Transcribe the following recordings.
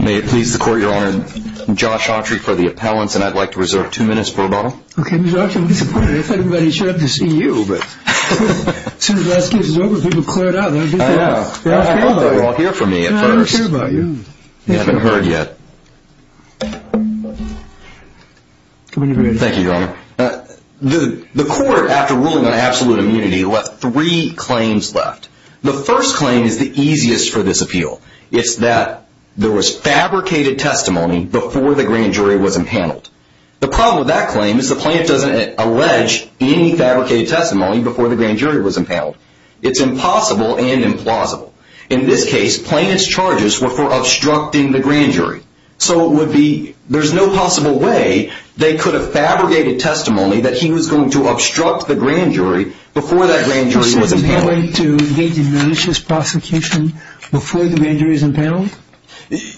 May it please the court, your honor, I'm Josh Autry for the appellants and I'd like to reserve two minutes for a bottle. Okay, Mr. Autry, I'm disappointed. I thought everybody showed up to see you, but as soon as the last case was over, people cleared out. I know. I didn't know you were all here for me at first. I don't care about you. You haven't heard yet. Thank you, your honor. The court, after ruling on absolute immunity, left three claims left. The first claim is the easiest for this appeal. It's that there was fabricated testimony before the grand jury was impaneled. The problem with that claim is the plaintiff doesn't allege any fabricated testimony before the grand jury was impaneled. It's impossible and implausible. In this case, plaintiff's charges were for obstructing the grand jury. So it would be, there's no possible way they could have fabricated testimony that he was going to obstruct the grand jury before that grand jury was impaneled. Is there a way to engage in malicious prosecution before the grand jury is impaneled?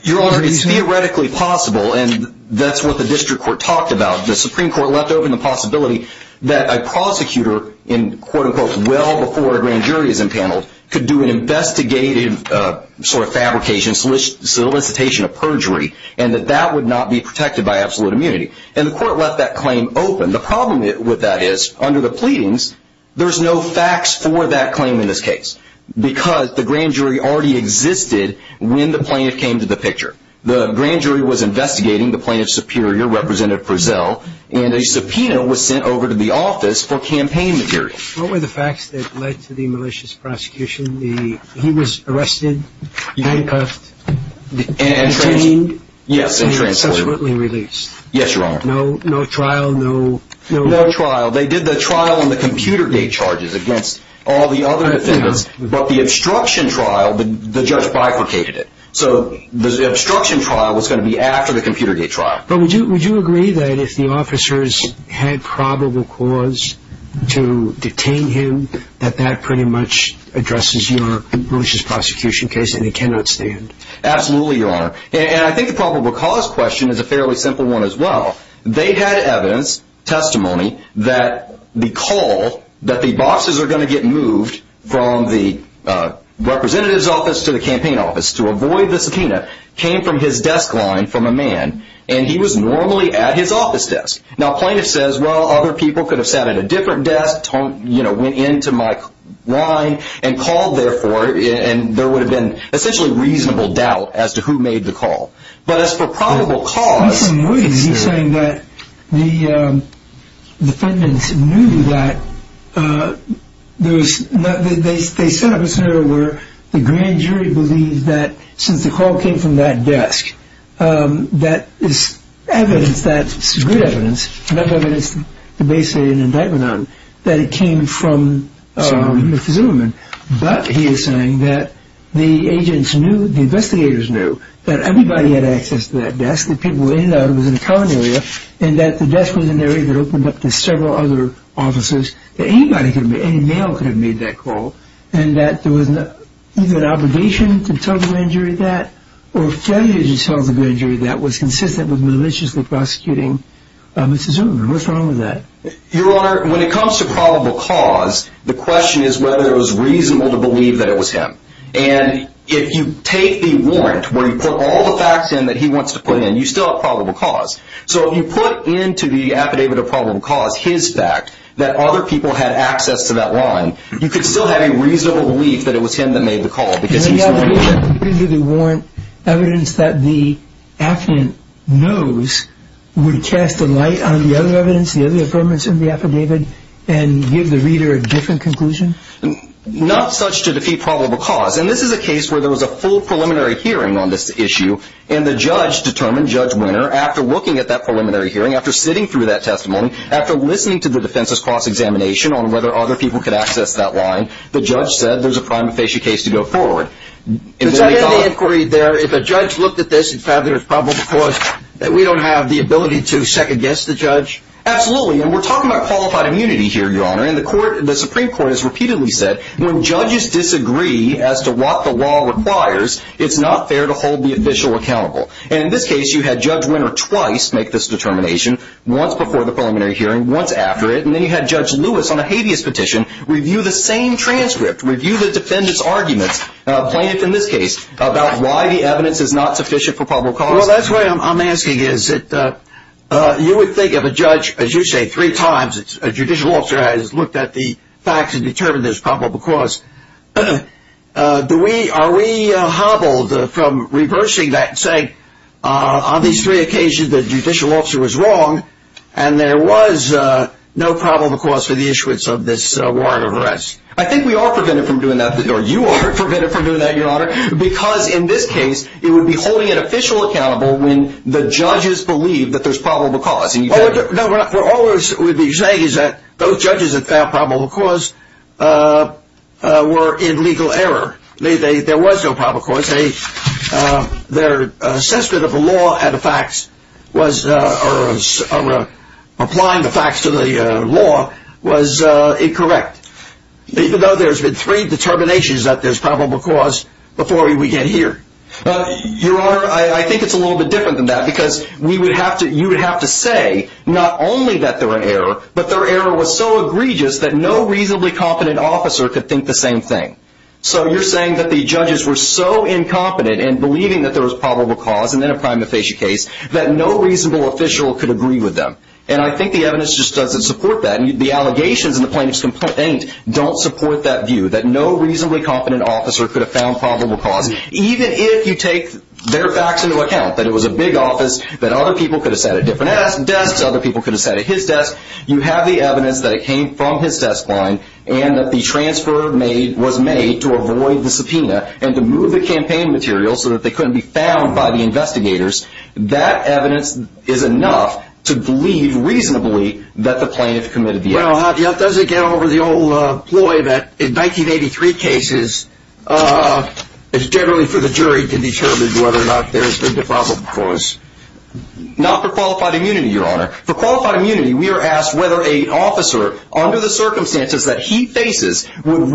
Your honor, it's theoretically possible, and that's what the district court talked about. The Supreme Court left open the possibility that a prosecutor in quote unquote well before a grand jury is impaneled could do an investigative sort of fabrication solicitation of perjury, and that that would not be protected by absolute immunity. And the court left that claim open. The problem with that is under the pleadings, there's no facts for that claim in this case because the grand jury already existed when the plaintiff came to the picture. The grand jury was investigating the plaintiff's superior, Representative Prezell, and a subpoena was sent over to the office for campaign material. What were the facts that led to the malicious prosecution? He was arrested, handcuffed, detained, and subsequently released. Yes, your honor. No trial, no? No trial. They did the trial on the computer gate charges against all the other defendants, but the obstruction trial, the judge bifurcated it. So the obstruction trial was going to be after the computer gate trial. But would you agree that if the officers had probable cause to detain him that that pretty much addresses your malicious prosecution case and he cannot stand? Absolutely, your honor. And I think the probable cause question is a fairly simple one as well. They had evidence, testimony, that the call that the bosses are going to get moved from the representative's office to the campaign office to avoid the subpoena came from his desk line from a man, and he was normally at his office desk. Now plaintiff says, well, other people could have sat at a different desk, went into my line and called there for it, and there would have been essentially reasonable doubt as to who made the call. But as for probable cause. He's saying that the defendants knew that there was, they set up a scenario where the grand jury believed that since the call came from that desk, that is evidence, that's good evidence, that's enough evidence to base an indictment on, that it came from Mr. Zimmerman. But he is saying that the agents knew, the investigators knew, that everybody had access to that desk, that people were in and out, it was in a common area, and that the desk was an area that opened up to several other officers, that anybody could have made, any male could have made that call, and that there was either an obligation to tell the grand jury that or failure to tell the grand jury that was consistent with maliciously prosecuting Mr. Zimmerman. What's wrong with that? Your Honor, when it comes to probable cause, the question is whether it was reasonable to believe that it was him. And if you take the warrant, where you put all the facts in that he wants to put in, you still have probable cause. So if you put into the affidavit of probable cause his fact, that other people had access to that line, you could still have a reasonable belief that it was him that made the call, and then you have to put into the warrant evidence that the affidavit knows would cast a light on the other evidence, the other affirmance in the affidavit, and give the reader a different conclusion? Not such to defeat probable cause. And this is a case where there was a full preliminary hearing on this issue, and the judge determined, Judge Winner, after looking at that preliminary hearing, after sitting through that testimony, after listening to the defense's cross-examination on whether other people could access that line, the judge said there's a prima facie case to go forward. Does that end the inquiry there? If a judge looked at this and found there was probable cause, that we don't have the ability to second-guess the judge? Absolutely. And we're talking about qualified immunity here, Your Honor. And the Supreme Court has repeatedly said, when judges disagree as to what the law requires, it's not fair to hold the official accountable. And in this case, you had Judge Winner twice make this determination, once before the preliminary hearing, once after it, and then you had Judge Lewis on a habeas petition review the same transcript, review the defendant's arguments, plaintiff in this case, about why the evidence is not sufficient for probable cause. Well, that's why I'm asking is that you would think of a judge, as you say, three times, a judicial officer has looked at the facts and determined there's probable cause. Are we hobbled from reversing that and saying, on these three occasions the judicial officer was wrong and there was no probable cause for the issuance of this warrant of arrest? I think we are prevented from doing that, or you are prevented from doing that, Your Honor, because in this case it would be holding an official accountable when the judges believe that there's probable cause. No, what you're saying is that those judges that found probable cause were in legal error. There was no probable cause. Their assessment of the law and applying the facts to the law was incorrect. Even though there's been three determinations that there's probable cause before we get here. Your Honor, I think it's a little bit different than that because you would have to say not only that they're in error, but their error was so egregious that no reasonably competent officer could think the same thing. So, you're saying that the judges were so incompetent and believing that there was probable cause, and in a prima facie case, that no reasonable official could agree with them. And I think the evidence just doesn't support that. The allegations in the plaintiff's complaint don't support that view, that no reasonably competent officer could have found probable cause. Even if you take their facts into account, that it was a big office, that other people could have sat at different desks, other people could have sat at his desk, you have the evidence that it came from his desk line and that the transfer was made to avoid the subpoena and to move the campaign material so that they couldn't be found by the investigators, that evidence is enough to believe reasonably that the plaintiff committed the act. Well, how does it get over the old ploy that in 1983 cases, it's generally for the jury to determine whether or not there's been probable cause? Not for qualified immunity, Your Honor. For qualified immunity, we are asked whether a officer, under the circumstances that he faces, would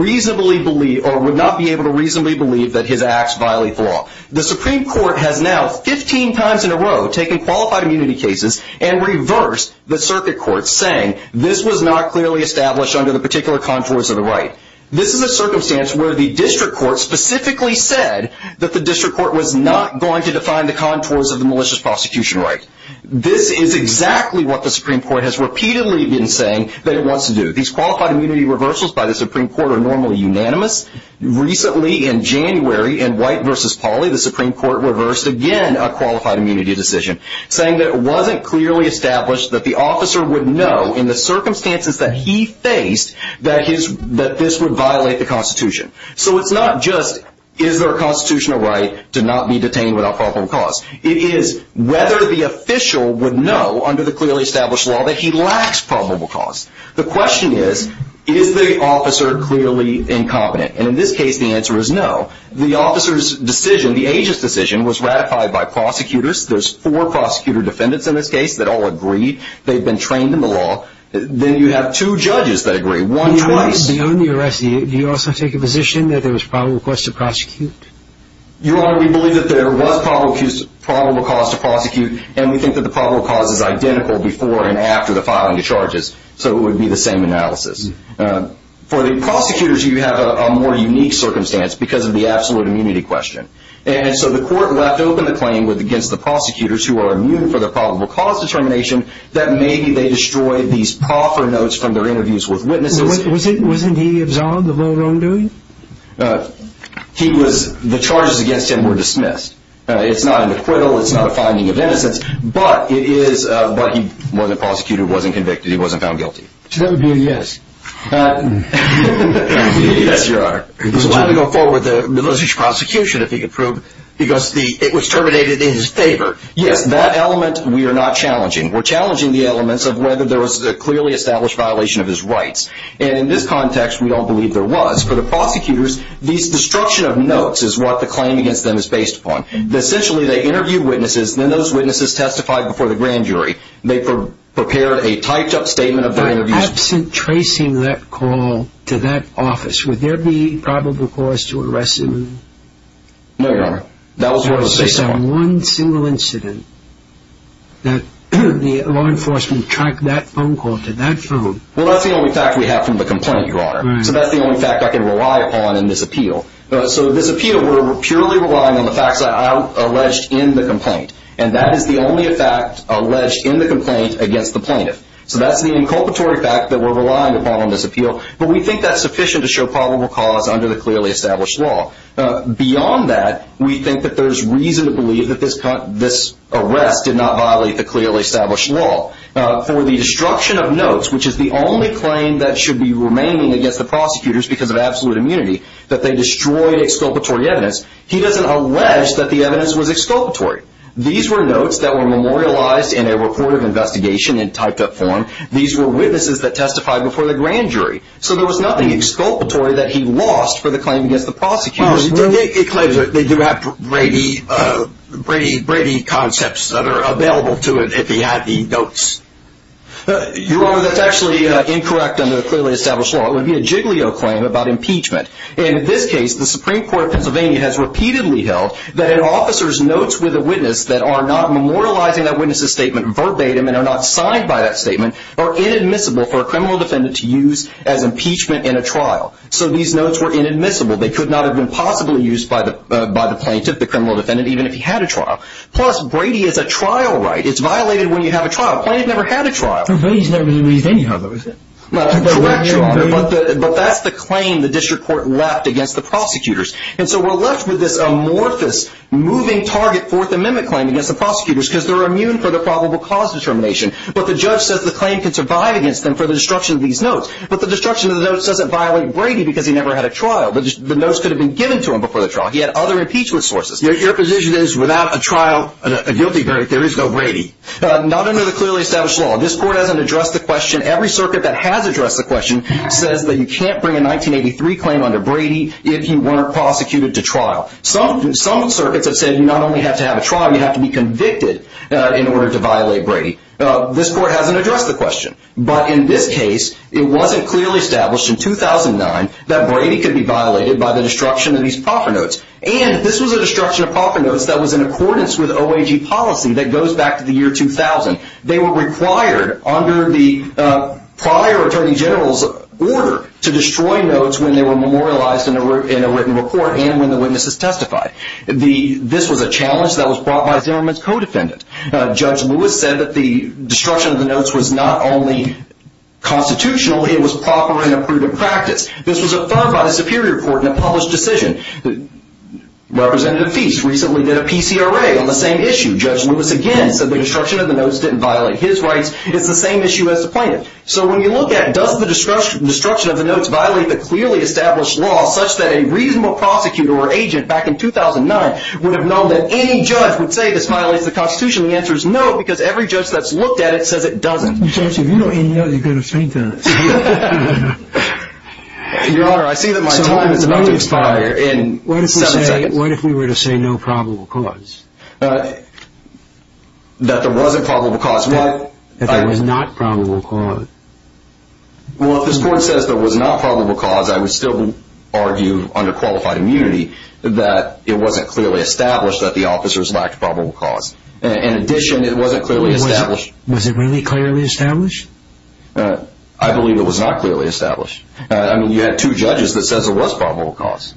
not be able to reasonably believe that his acts violate the law. The Supreme Court has now, 15 times in a row, taken qualified immunity cases and reversed the circuit court, saying this was not clearly established under the particular contours of the right. This is a circumstance where the district court specifically said that the district court was not going to define the contours of the malicious prosecution right. This is exactly what the Supreme Court has repeatedly been saying, that it wants to do. These qualified immunity reversals by the Supreme Court are normally unanimous. Recently, in January, in White v. Pauley, the Supreme Court reversed again a qualified immunity decision, saying that it wasn't clearly established that the officer would know, in the circumstances that he faced, that this would violate the Constitution. So it's not just, is there a constitutional right to not be detained without probable cause? It is whether the official would know, under the clearly established law, that he lacks probable cause. The question is, is the officer clearly incompetent? And in this case, the answer is no. The officer's decision, the agent's decision, was ratified by prosecutors. There's four prosecutor defendants in this case that all agreed. They've been trained in the law. Then you have two judges that agree, one twice. Your Honor, we believe that there was probable cause to prosecute, and we think that the probable cause is identical before and after the filing of charges, so it would be the same analysis. For the prosecutors, you have a more unique circumstance, because of the absolute immunity question. And so the court left open the claim against the prosecutors, who are immune from the probable cause determination, that maybe they destroyed these proffer notes from their interviews with witnesses. Wasn't he absolved of what he was doing? The charges against him were dismissed. It's not an acquittal. It's not a finding of innocence. But he wasn't prosecuted, wasn't convicted. He wasn't found guilty. So that would be a yes. Yes, Your Honor. He was allowed to go forward with a malicious prosecution, if he could prove, because it was terminated in his favor. Yes, that element we are not challenging. We're challenging the elements of whether there was a clearly established violation of his rights. And in this context, we don't believe there was. For the prosecutors, this destruction of notes is what the claim against them is based upon. Essentially, they interviewed witnesses, then those witnesses testified before the grand jury. They prepared a typed-up statement of their interviews. Absent tracing that call to that office, would there be probable cause to arrest him? No, Your Honor. There was just that one single incident that the law enforcement tracked that phone call to that phone. Well, that's the only fact we have from the complaint, Your Honor. So that's the only fact I can rely upon in this appeal. So this appeal, we're purely relying on the facts alleged in the complaint. And that is the only fact alleged in the complaint against the plaintiff. So that's the inculpatory fact that we're relying upon in this appeal. But we think that's sufficient to show probable cause under the clearly established law. Beyond that, we think that there's reason to believe that this arrest did not violate the clearly established law. For the destruction of notes, which is the only claim that should be remaining against the prosecutors because of absolute immunity, that they destroyed exculpatory evidence, he doesn't allege that the evidence was exculpatory. These were notes that were memorialized in a report of investigation in typed-up form. These were witnesses that testified before the grand jury. So there was nothing exculpatory that he lost for the claim against the prosecutors. They do have Brady concepts that are available to him if he had the notes. Your Honor, that's actually incorrect under the clearly established law. It would be a jiggly-oh claim about impeachment. In this case, the Supreme Court of Pennsylvania has repeatedly held that an officer's notes with a witness that are not memorializing that witness's statement verbatim and are not signed by that statement are inadmissible for a criminal defendant to use as impeachment in a trial. So these notes were inadmissible. They could not have been possibly used by the plaintiff, the criminal defendant, even if he had a trial. Plus, Brady is a trial right. It's violated when you have a trial. The plaintiff never had a trial. But Brady's never been released anyhow, though, is he? Correct, Your Honor. But that's the claim the district court left against the prosecutors. And so we're left with this amorphous moving target Fourth Amendment claim against the prosecutors because they're immune for the probable cause determination. But the judge says the claim can survive against them for the destruction of these notes. But the destruction of the notes doesn't violate Brady because he never had a trial. The notes could have been given to him before the trial. He had other impeachment sources. Your position is without a trial, a guilty verdict, there is no Brady? Not under the clearly established law. This court hasn't addressed the question. Every circuit that has addressed the question says that you can't bring a 1983 claim under Brady if you weren't prosecuted to trial. Some circuits have said you not only have to have a trial, you have to be convicted in order to violate Brady. This court hasn't addressed the question. But in this case, it wasn't clearly established in 2009 that Brady could be violated by the destruction of these proffer notes. And this was a destruction of proffer notes that was in accordance with OAG policy that goes back to the year 2000. They were required under the prior Attorney General's order to destroy notes when they were memorialized in a written report and when the witnesses testified. This was a challenge that was brought by Zimmerman's co-defendant. Judge Lewis said that the destruction of the notes was not only constitutional, it was proper and approved in practice. This was affirmed by the Superior Court in a published decision. Representative Feist recently did a PCRA on the same issue. Judge Lewis again said the destruction of the notes didn't violate his rights. It's the same issue as the plaintiff. So when you look at does the destruction of the notes violate the clearly established law such that a reasonable prosecutor or agent back in 2009 would have known that any judge would say this violates the Constitution? The answer is no, because every judge that's looked at it says it doesn't. Judge, if you know any notes, you've got to explain to us. Your Honor, I see that my time is about to expire in seven seconds. So what if we were to say no probable cause? That there was a probable cause? That there was not probable cause. Well, if this Court says there was not probable cause, I would still argue under qualified immunity that it wasn't clearly established that the officers lacked probable cause. In addition, it wasn't clearly established. Was it really clearly established? I believe it was not clearly established. I mean, you had two judges that said there was probable cause.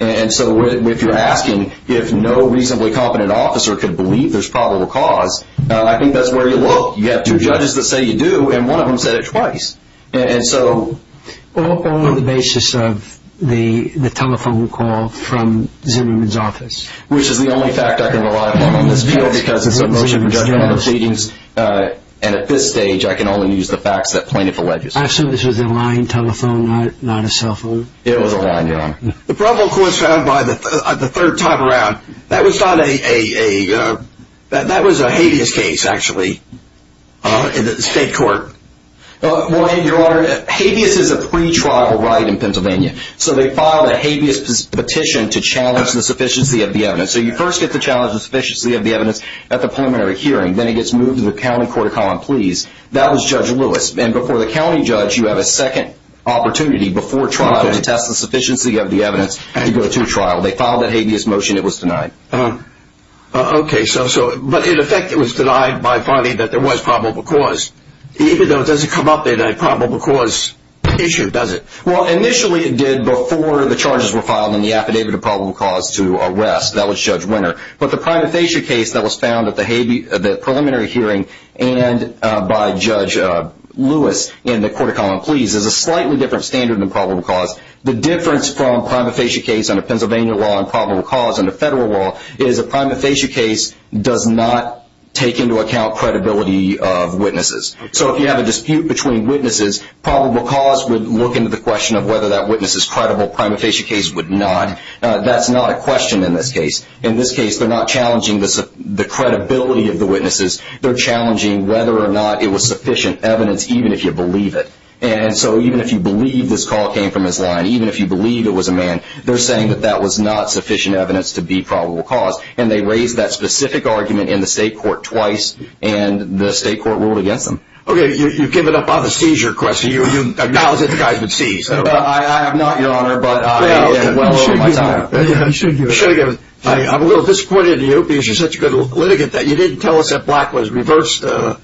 And so if you're asking if no reasonably competent officer could believe there's probable cause, I think that's where you look. You have two judges that say you do, and one of them said it twice. All on the basis of the telephone call from Zimmerman's office. Which is the only fact I can rely upon on this field because it's a motion for judgment on the proceedings. And at this stage, I can only use the facts that plaintiff alleges. So this was a line telephone, not a cell phone? It was a line, Your Honor. The probable cause found by the third time around, that was not a – that was a habeas case, actually, in the state court. Well, Your Honor, habeas is a pretrial right in Pennsylvania. So they filed a habeas petition to challenge the sufficiency of the evidence. So you first get to challenge the sufficiency of the evidence at the preliminary hearing. Then it gets moved to the county court of common pleas. That was Judge Lewis. And before the county judge, you have a second opportunity before trial to test the sufficiency of the evidence to go to trial. They filed that habeas motion. It was denied. Okay. But in effect, it was denied by finding that there was probable cause. Even though it doesn't come up in a probable cause issue, does it? Well, initially it did before the charges were filed and the affidavit of probable cause to arrest. That was Judge Winter. But the prima facie case that was found at the preliminary hearing and by Judge Lewis in the court of common pleas is a slightly different standard than probable cause. The difference from a prima facie case under Pennsylvania law and probable cause under federal law is a prima facie case does not take into account credibility of witnesses. So if you have a dispute between witnesses, probable cause would look into the question of whether that witness is credible. Prima facie case would not. That's not a question in this case. In this case, they're not challenging the credibility of the witnesses. They're challenging whether or not it was sufficient evidence even if you believe it. And so even if you believe this call came from his line, even if you believe it was a man, they're saying that that was not sufficient evidence to be probable cause. And they raised that specific argument in the state court twice, and the state court ruled against them. Okay, you've given up on the seizure question. You acknowledge that the guy's been seized. I have not, Your Honor, but well over my time. You should give it up. I'm a little disappointed in you because you're such a good litigant that you didn't tell us that Black was reversed, although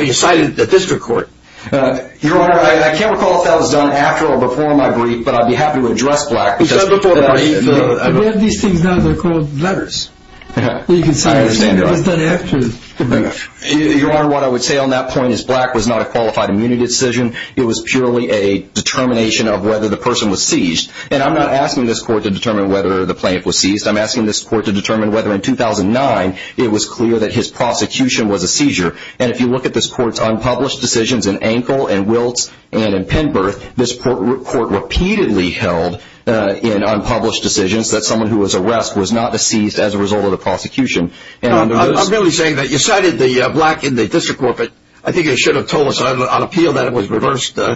you cited the district court. Your Honor, I can't recall if that was done after or before my brief, but I'd be happy to address Black. We have these things now that are called letters. I understand that. It was done after the brief. Your Honor, what I would say on that point is Black was not a qualified immunity decision. It was purely a determination of whether the person was seized. And I'm not asking this court to determine whether the plaintiff was seized. I'm asking this court to determine whether in 2009 it was clear that his prosecution was a seizure. And if you look at this court's unpublished decisions in Ankle and Wiltz and in Penberth, this court repeatedly held in unpublished decisions that someone who was arrested was not seized as a result of the prosecution. I'm merely saying that you cited the Black in the district court, but I think you should have told us on appeal that it was reversed. It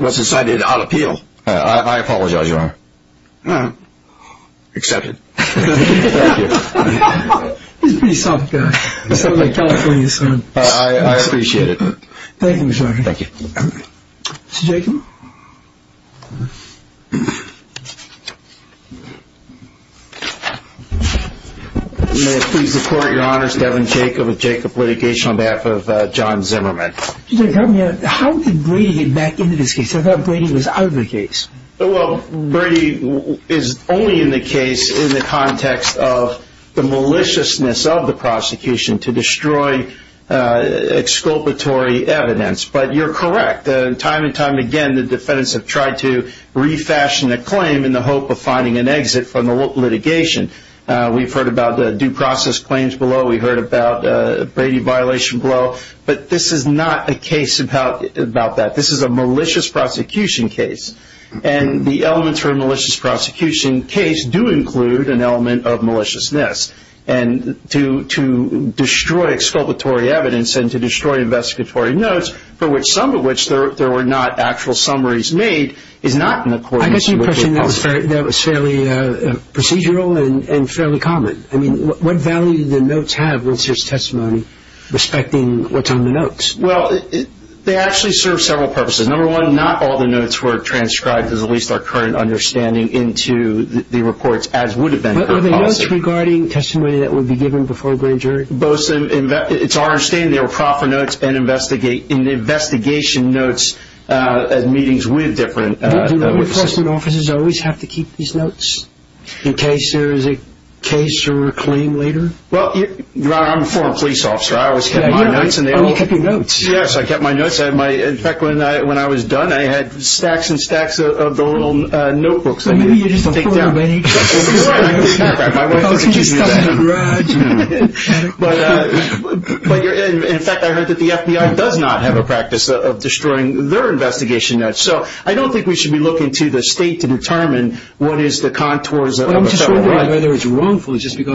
was decided on appeal. I apologize, Your Honor. Accepted. Thank you. He's a pretty soft guy. He's like my California son. I appreciate it. Thank you, Your Honor. Thank you. Mr. Jacob? May I please report, Your Honor? It's Devin Jacob with Jacob Litigation on behalf of John Zimmerman. How did Brady get back into this case? I thought Brady was out of the case. Well, Brady is only in the case in the context of the maliciousness of the prosecution to destroy exculpatory evidence. But you're correct. Time and time again, the defendants have tried to refashion a claim in the hope of finding an exit from the litigation. We've heard about the due process claims below. We've heard about Brady violation below. But this is not a case about that. This is a malicious prosecution case. And the elements for a malicious prosecution case do include an element of maliciousness. And to destroy exculpatory evidence and to destroy investigatory notes, for which some of which there were not actual summaries made, is not in accordance with the policy. I guess you're pushing that was fairly procedural and fairly common. I mean, what value did the notes have once there's testimony respecting what's on the notes? Well, they actually serve several purposes. Number one, not all the notes were transcribed, as at least our current understanding, into the reports as would have been for the policy. But were the notes regarding testimony that would be given before a grand jury? It's our understanding they were proper notes and investigation notes at meetings with different witnesses. Do law enforcement officers always have to keep these notes in case there is a case or a claim later? Well, Your Honor, I'm a former police officer. I always kept my notes. Oh, you kept your notes. Yes, I kept my notes. In fact, when I was done, I had stacks and stacks of the little notebooks I needed to take down. So maybe you're just a former police officer. My wife used to give me that. But, in fact, I heard that the FBI does not have a practice of destroying their investigation notes. So I don't think we should be looking to the state to determine what is the contours of a federal right. I'm just wondering whether it's wrongful just because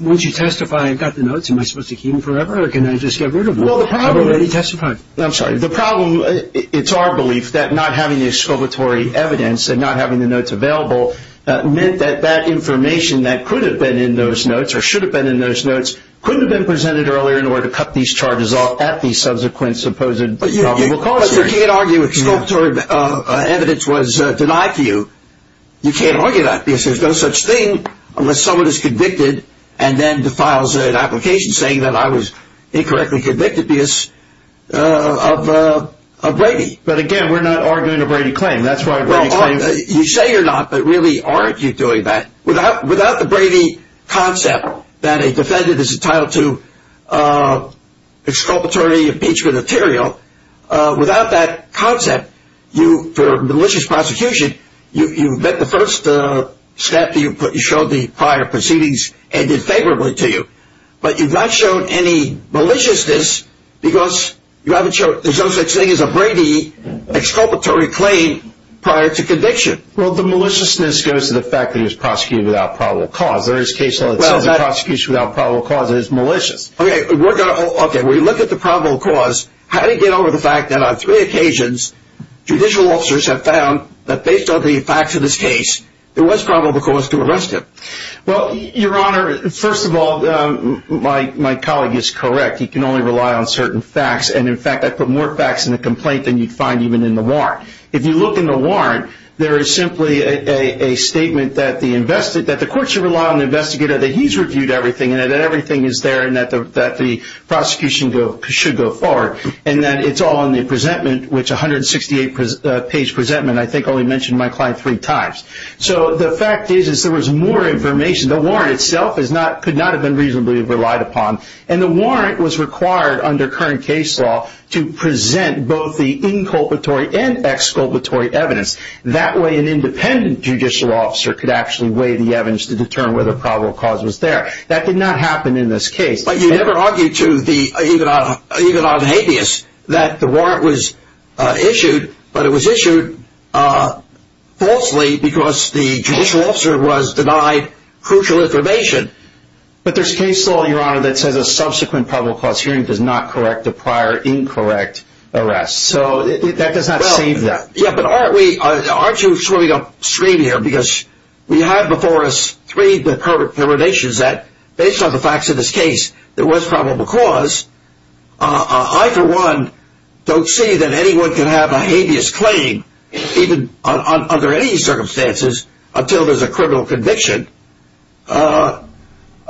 once you testify and got the notes, am I supposed to keep them forever or can I just get rid of them? I've already testified. I'm sorry. The problem, it's our belief that not having the exculpatory evidence and not having the notes available meant that that information that could have been in those notes or should have been in those notes couldn't have been presented earlier in order to cut these charges off at the subsequent supposed probable cause. But you can't argue exculpatory evidence was denied to you. You can't argue that because there's no such thing unless someone is convicted and then files an application saying that I was incorrectly convicted because of Brady. But, again, we're not arguing a Brady claim. You say you're not, but really aren't you doing that? Without the Brady concept that a defendant is entitled to exculpatory impeachment material, without that concept for malicious prosecution, you've met the first step that you showed the prior proceedings and did favorably to you. But you've not shown any maliciousness because you haven't shown there's no such thing as a Brady exculpatory claim prior to conviction. Well, the maliciousness goes to the fact that he was prosecuted without probable cause. There is case law that says a prosecution without probable cause is malicious. Okay, we look at the probable cause. How do you get over the fact that on three occasions, judicial officers have found that based on the facts of this case, there was probable cause to arrest him? Well, Your Honor, first of all, my colleague is correct. He can only rely on certain facts. And, in fact, I put more facts in the complaint than you'd find even in the warrant. If you look in the warrant, there is simply a statement that the court should rely on the investigator that he's reviewed everything and that everything is there and that the prosecution should go forward. And then it's all in the presentment, which 168-page presentment, I think only mentioned my client three times. So the fact is there was more information. The warrant itself could not have been reasonably relied upon. And the warrant was required under current case law to present both the inculpatory and exculpatory evidence. That way, an independent judicial officer could actually weigh the evidence to determine whether probable cause was there. That did not happen in this case. But you never argued to even on habeas that the warrant was issued, but it was issued falsely because the judicial officer was denied crucial information. But there's case law, Your Honor, that says a subsequent probable cause hearing does not correct a prior incorrect arrest. So that does not save that. Yeah, but aren't you swimming upstream here? Because we have before us three determinations that, based on the facts of this case, there was probable cause. I, for one, don't see that anyone can have a habeas claim even under any circumstances until there's a criminal conviction. So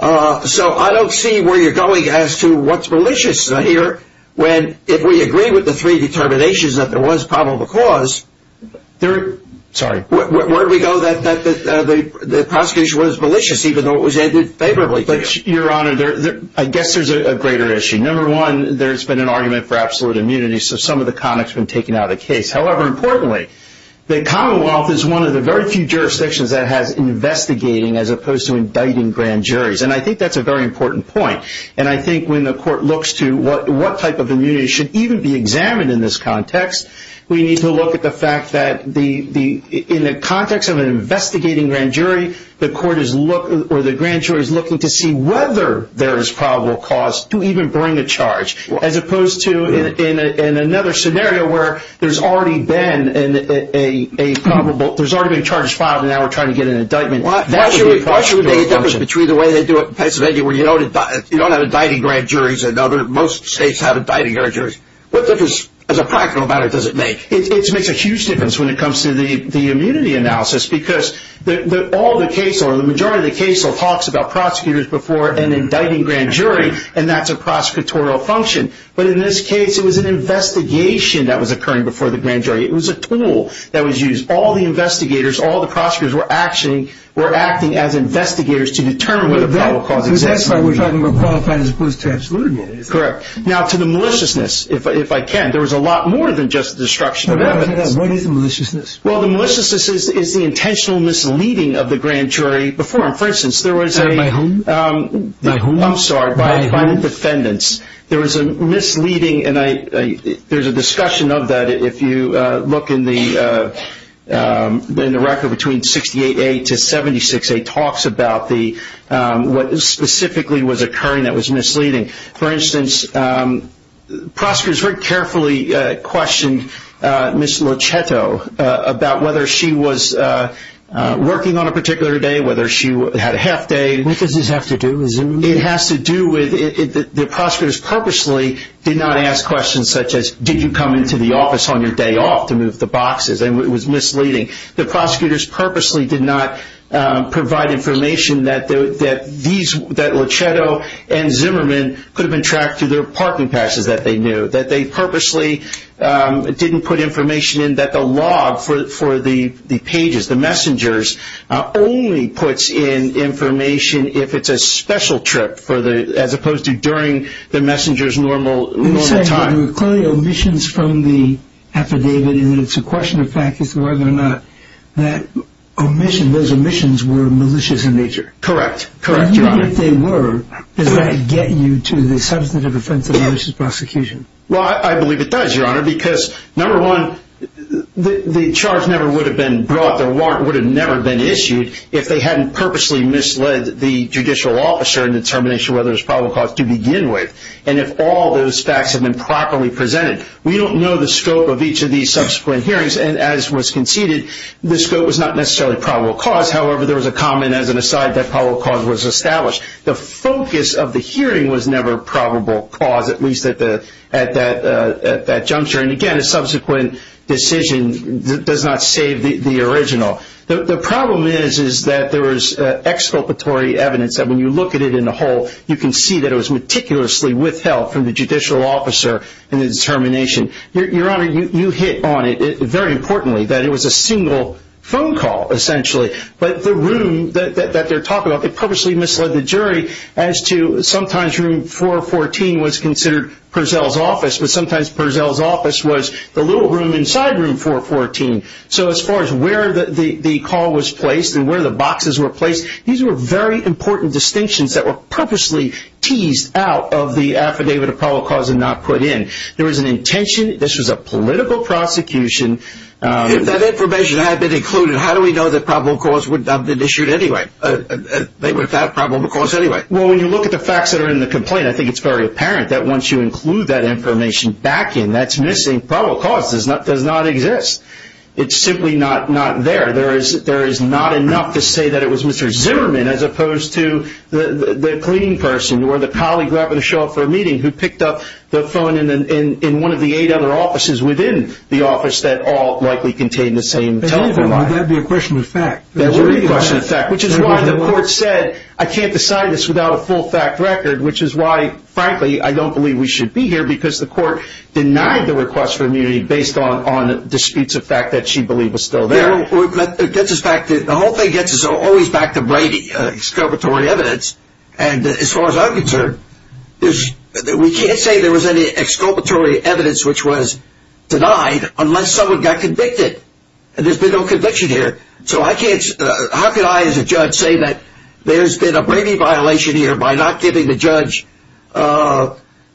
I don't see where you're going as to what's malicious here when, if we agree with the three determinations that there was probable cause, where do we go that the prosecution was malicious, even though it was ended favorably? Your Honor, I guess there's a greater issue. Number one, there's been an argument for absolute immunity, so some of the context has been taken out of the case. However, importantly, the Commonwealth is one of the very few jurisdictions that has investigating as opposed to indicting grand juries. And I think that's a very important point. And I think when the court looks to what type of immunity should even be examined in this context, we need to look at the fact that in the context of an investigating grand jury, the grand jury is looking to see whether there is probable cause to even bring a charge, as opposed to in another scenario where there's already been charges filed and now we're trying to get an indictment. Why should we make a difference between the way they do it in Pennsylvania, where you don't have indicting grand juries and most states have indicting grand juries? What difference, as a practical matter, does it make? It makes a huge difference when it comes to the immunity analysis, because the majority of the case law talks about prosecutors before an indicting grand jury, and that's a prosecutorial function. But in this case, it was an investigation that was occurring before the grand jury. It was a tool that was used. All the investigators, all the prosecutors were acting as investigators to determine whether probable cause exists. So that's why we're talking about qualified as opposed to absolute immunity. Correct. Now, to the maliciousness, if I can. There was a lot more than just destruction of evidence. What is maliciousness? Well, the maliciousness is the intentional misleading of the grand jury. For instance, there was a- By whom? I'm sorry. By whom? By the defendants. There was a misleading, and there's a discussion of that. If you look in the record between 68A to 76A, it talks about what specifically was occurring that was misleading. For instance, prosecutors very carefully questioned Ms. Locetto about whether she was working on a particular day, whether she had a half day. What does this have to do with- It has to do with the prosecutors purposely did not ask questions such as, did you come into the office on your day off to move the boxes, and it was misleading. The prosecutors purposely did not provide information that Locetto and Zimmerman could have been tracked through their parking passes that they knew, that they purposely didn't put information in that the log for the pages, the messengers, only puts in information if it's a special trip as opposed to during the messenger's normal time. You're saying there were clearly omissions from the affidavit, and it's a question of fact as to whether or not those omissions were malicious in nature. Correct. Correct, Your Honor. Even if they were, does that get you to the substantive offense of malicious prosecution? Well, I believe it does, Your Honor, because number one, the charge never would have been brought, the warrant would have never been issued, if they hadn't purposely misled the judicial officer in determination whether it was probable cause to begin with, and if all those facts had been properly presented. We don't know the scope of each of these subsequent hearings, and as was conceded, the scope was not necessarily probable cause. However, there was a comment as an aside that probable cause was established. The focus of the hearing was never probable cause, at least at that juncture. And again, a subsequent decision does not save the original. The problem is that there was exculpatory evidence that when you look at it in the whole, you can see that it was meticulously withheld from the judicial officer in the determination. Your Honor, you hit on it, very importantly, that it was a single phone call, essentially. But the room that they're talking about, they purposely misled the jury as to sometimes room 414 was considered Purzell's office, but sometimes Purzell's office was the little room inside room 414. So as far as where the call was placed and where the boxes were placed, these were very important distinctions that were purposely teased out of the affidavit of probable cause and not put in. There was an intention, this was a political prosecution. If that information had been included, how do we know that probable cause would not have been issued anyway? They would have found probable cause anyway. Well, when you look at the facts that are in the complaint, I think it's very apparent that once you include that information back in, that's missing. Probable cause does not exist. It's simply not there. There is not enough to say that it was Mr. Zimmerman as opposed to the cleaning person or the colleague grabbing a show off for a meeting who picked up the phone in one of the eight other offices within the office that all likely contained the same telephone line. That would be a question of fact. That would be a question of fact, which is why the court said, I can't decide this without a full fact record, which is why, frankly, I don't believe we should be here, because the court denied the request for immunity based on disputes of fact that she believed were still there. The whole thing gets us always back to Brady, exculpatory evidence, and as far as I'm concerned, we can't say there was any exculpatory evidence which was denied unless someone got convicted, and there's been no conviction here. So how can I, as a judge, say that there's been a Brady violation here by not giving the judge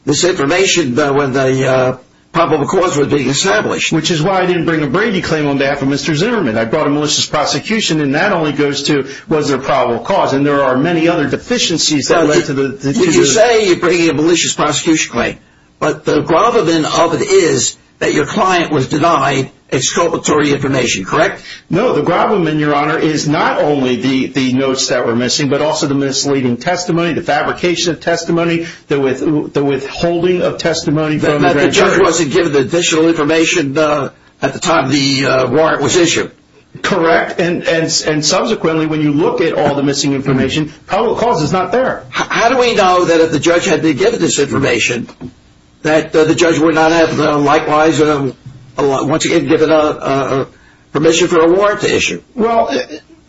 this information when the probable cause was being established? Which is why I didn't bring a Brady claim on behalf of Mr. Zimmerman. I brought a malicious prosecution, and that only goes to was there a probable cause, and there are many other deficiencies that led to the defusion. You say you're bringing a malicious prosecution claim, but the gravamen of it is that your client was denied exculpatory information, correct? No, the gravamen, Your Honor, is not only the notes that were missing, but also the misleading testimony, the fabrication of testimony, the withholding of testimony. The judge wasn't given the additional information at the time the warrant was issued. Correct, and subsequently, when you look at all the missing information, probable cause is not there. How do we know that if the judge had been given this information, that the judge would not have likewise, once again, given permission for a warrant to issue? Well,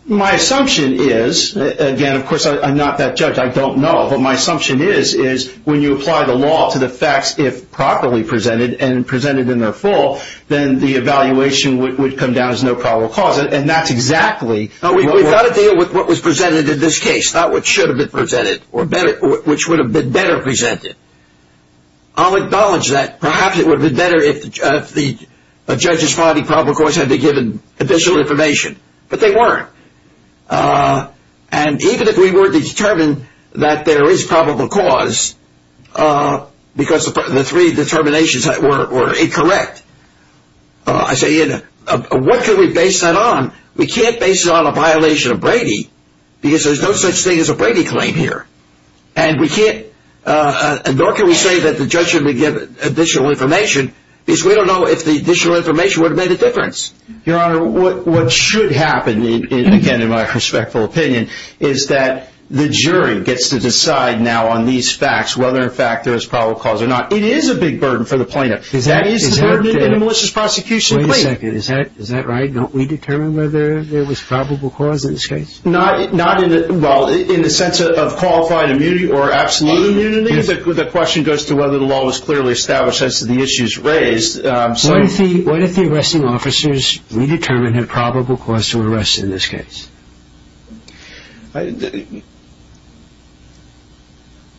my assumption is, again, of course I'm not that judge, I don't know, but my assumption is when you apply the law to the facts, if properly presented and presented in their full, then the evaluation would come down as no probable cause, and that's exactly what was presented in this case, not what should have been presented, or which would have been better presented. I'll acknowledge that. Perhaps it would have been better if the judge's finding probable cause had been given additional information, but they weren't, and even if we were to determine that there is probable cause, because the three determinations were incorrect, I say, what can we base that on? We can't base it on a violation of Brady, because there's no such thing as a Brady claim here, and nor can we say that the judge should have been given additional information, because we don't know if the additional information would have made a difference. Your Honor, what should happen, again, in my respectful opinion, is that the jury gets to decide now on these facts whether in fact there is probable cause or not. It is a big burden for the plaintiff. That is the burden of a malicious prosecution. Wait a second. Is that right? Don't we determine whether there was probable cause in this case? Not in the sense of qualified immunity or absolute immunity. The question goes to whether the law was clearly established as to the issues raised. What if the arresting officers redetermined had probable cause to arrest in this case?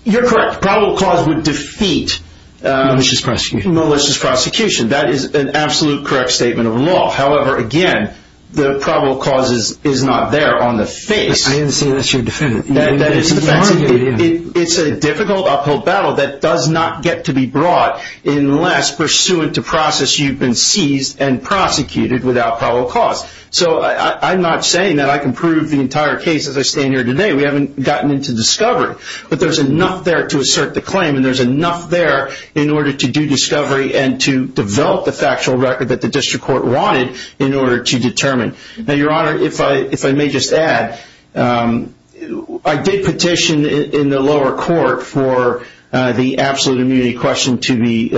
You're correct. Probable cause would defeat malicious prosecution. That is an absolute correct statement of law. However, again, the probable cause is not there on the face. I didn't say that's your defense. It's a difficult uphill battle that does not get to be brought unless, pursuant to process, you've been seized and prosecuted without probable cause. I'm not saying that I can prove the entire case as I stand here today. We haven't gotten into discovery, but there's enough there to assert the claim, and there's enough there in order to do discovery and to develop the factual record that the district court wanted in order to determine. Your Honor, if I may just add, I did petition in the lower court for the absolute immunity question to be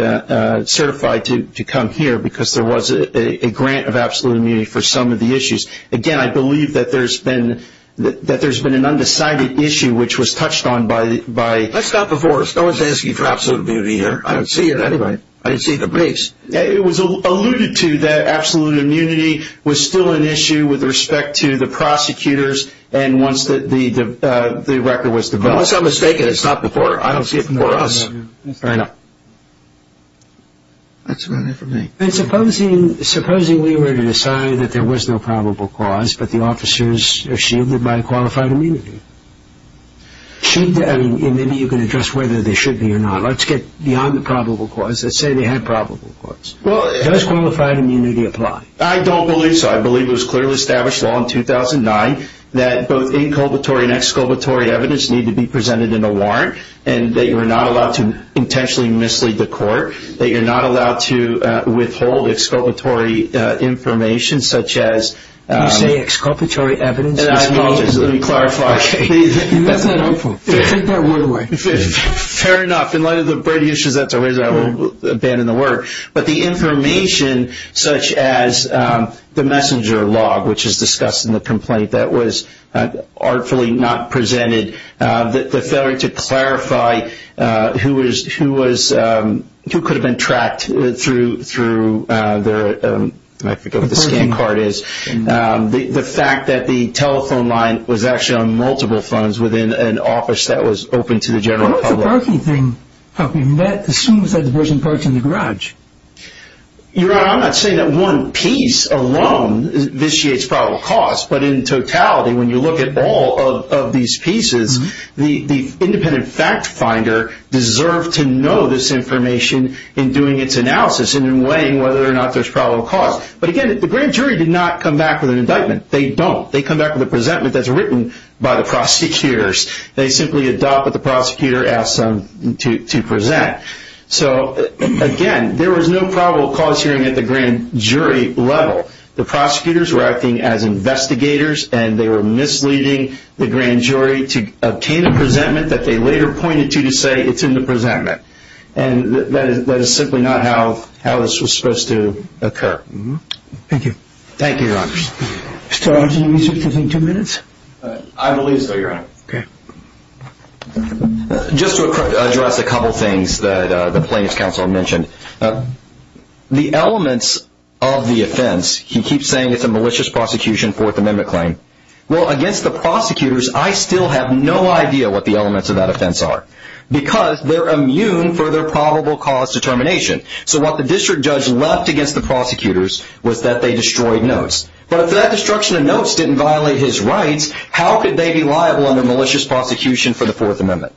certified to come here because there was a grant of absolute immunity for some of the issues. Again, I believe that there's been an undecided issue which was touched on by That's not before us. No one's asking for absolute immunity here. I don't see it anywhere. I didn't see it in the briefs. It was alluded to that absolute immunity was still an issue with respect to the prosecutors and once the record was developed. Unless I'm mistaken, it's not before us. That's right. Supposing we were to decide that there was no probable cause, but the officers are shielded by qualified immunity? Maybe you can address whether they should be or not. Let's get beyond the probable cause. Let's say they had probable cause. Does qualified immunity apply? I don't believe so. I believe it was clearly established law in 2009 that both inculpatory and exculpatory evidence need to be presented in a warrant and that you're not allowed to intentionally mislead the court, that you're not allowed to withhold exculpatory information such as You say exculpatory evidence. Let me clarify. That's not helpful. Take that word away. Fair enough. In light of the brevity of the issue, I will abandon the word. But the information such as the messenger log which is discussed in the complaint that was artfully not presented, the failure to clarify who could have been tracked through, I forget what the scan card is, the fact that the telephone line was actually on multiple phones within an office that was open to the general public. What about the parking thing? That assumes that the person parks in the garage. Your Honor, I'm not saying that one piece alone vitiates probable cause, but in totality when you look at all of these pieces, the independent fact finder deserved to know this information in doing its analysis and in weighing whether or not there's probable cause. But again, the grand jury did not come back with an indictment. They don't. They come back with a presentment that's written by the prosecutors. They simply adopt what the prosecutor asks them to present. So again, there was no probable cause hearing at the grand jury level. The prosecutors were acting as investigators and they were misleading the grand jury to obtain a presentment that they later pointed to to say it's in the presentment. And that is simply not how this was supposed to occur. Thank you. Thank you, Your Honor. Is there still time for two minutes? I believe so, Your Honor. Okay. Just to address a couple things that the plaintiff's counsel mentioned. The elements of the offense, he keeps saying it's a malicious prosecution Fourth Amendment claim. Well, against the prosecutors, I still have no idea what the elements of that offense are because they're immune for their probable cause determination. So what the district judge left against the prosecutors was that they destroyed notes. But if that destruction of notes didn't violate his rights, how could they be liable under malicious prosecution for the Fourth Amendment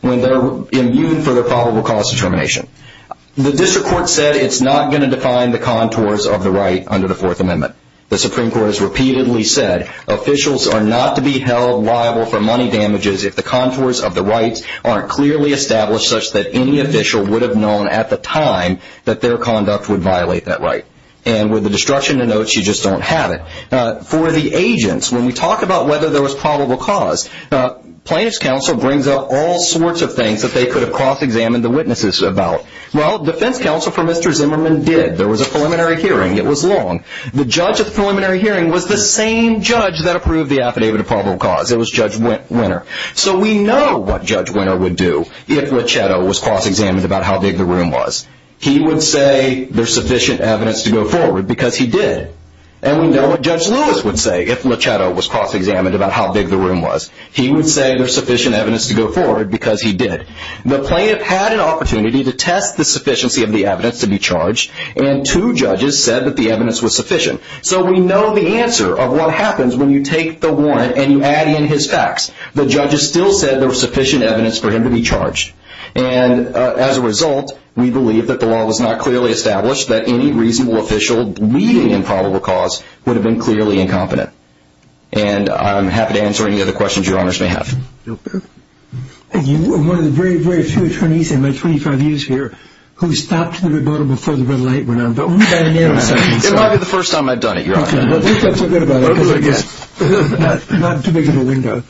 when they're immune for their probable cause determination? The district court said it's not going to define the contours of the right under the Fourth Amendment. The Supreme Court has repeatedly said officials are not to be held liable for money damages if the contours of the rights aren't clearly established such that any official would have known at the time that their conduct would violate that right. And with the destruction of notes, you just don't have it. For the agents, when we talk about whether there was probable cause, plaintiff's counsel brings up all sorts of things that they could have cross-examined the witnesses about. Well, defense counsel for Mr. Zimmerman did. There was a preliminary hearing. It was long. The judge at the preliminary hearing was the same judge that approved the affidavit of probable cause. It was Judge Winter. So we know what Judge Winter would do if Luchetto was cross-examined about how big the room was. He would say there's sufficient evidence to go forward because he did. And we know what Judge Lewis would say if Luchetto was cross-examined about how big the room was. He would say there's sufficient evidence to go forward because he did. The plaintiff had an opportunity to test the sufficiency of the evidence to be charged and two judges said that the evidence was sufficient. So we know the answer of what happens when you take the warrant and you add in his facts. The judges still said there was sufficient evidence for him to be charged. And as a result, we believe that the law was not clearly established that any reasonable official leading in probable cause would have been clearly incompetent. And I'm happy to answer any other questions your honors may have. Thank you. We're one of the very, very few attorneys in my 25 years here who stopped the rebuttal before the red light went on. But we've had an era. It might be the first time I've done it, Your Honor. Okay. Well, just don't forget about it because it's not too big of a window.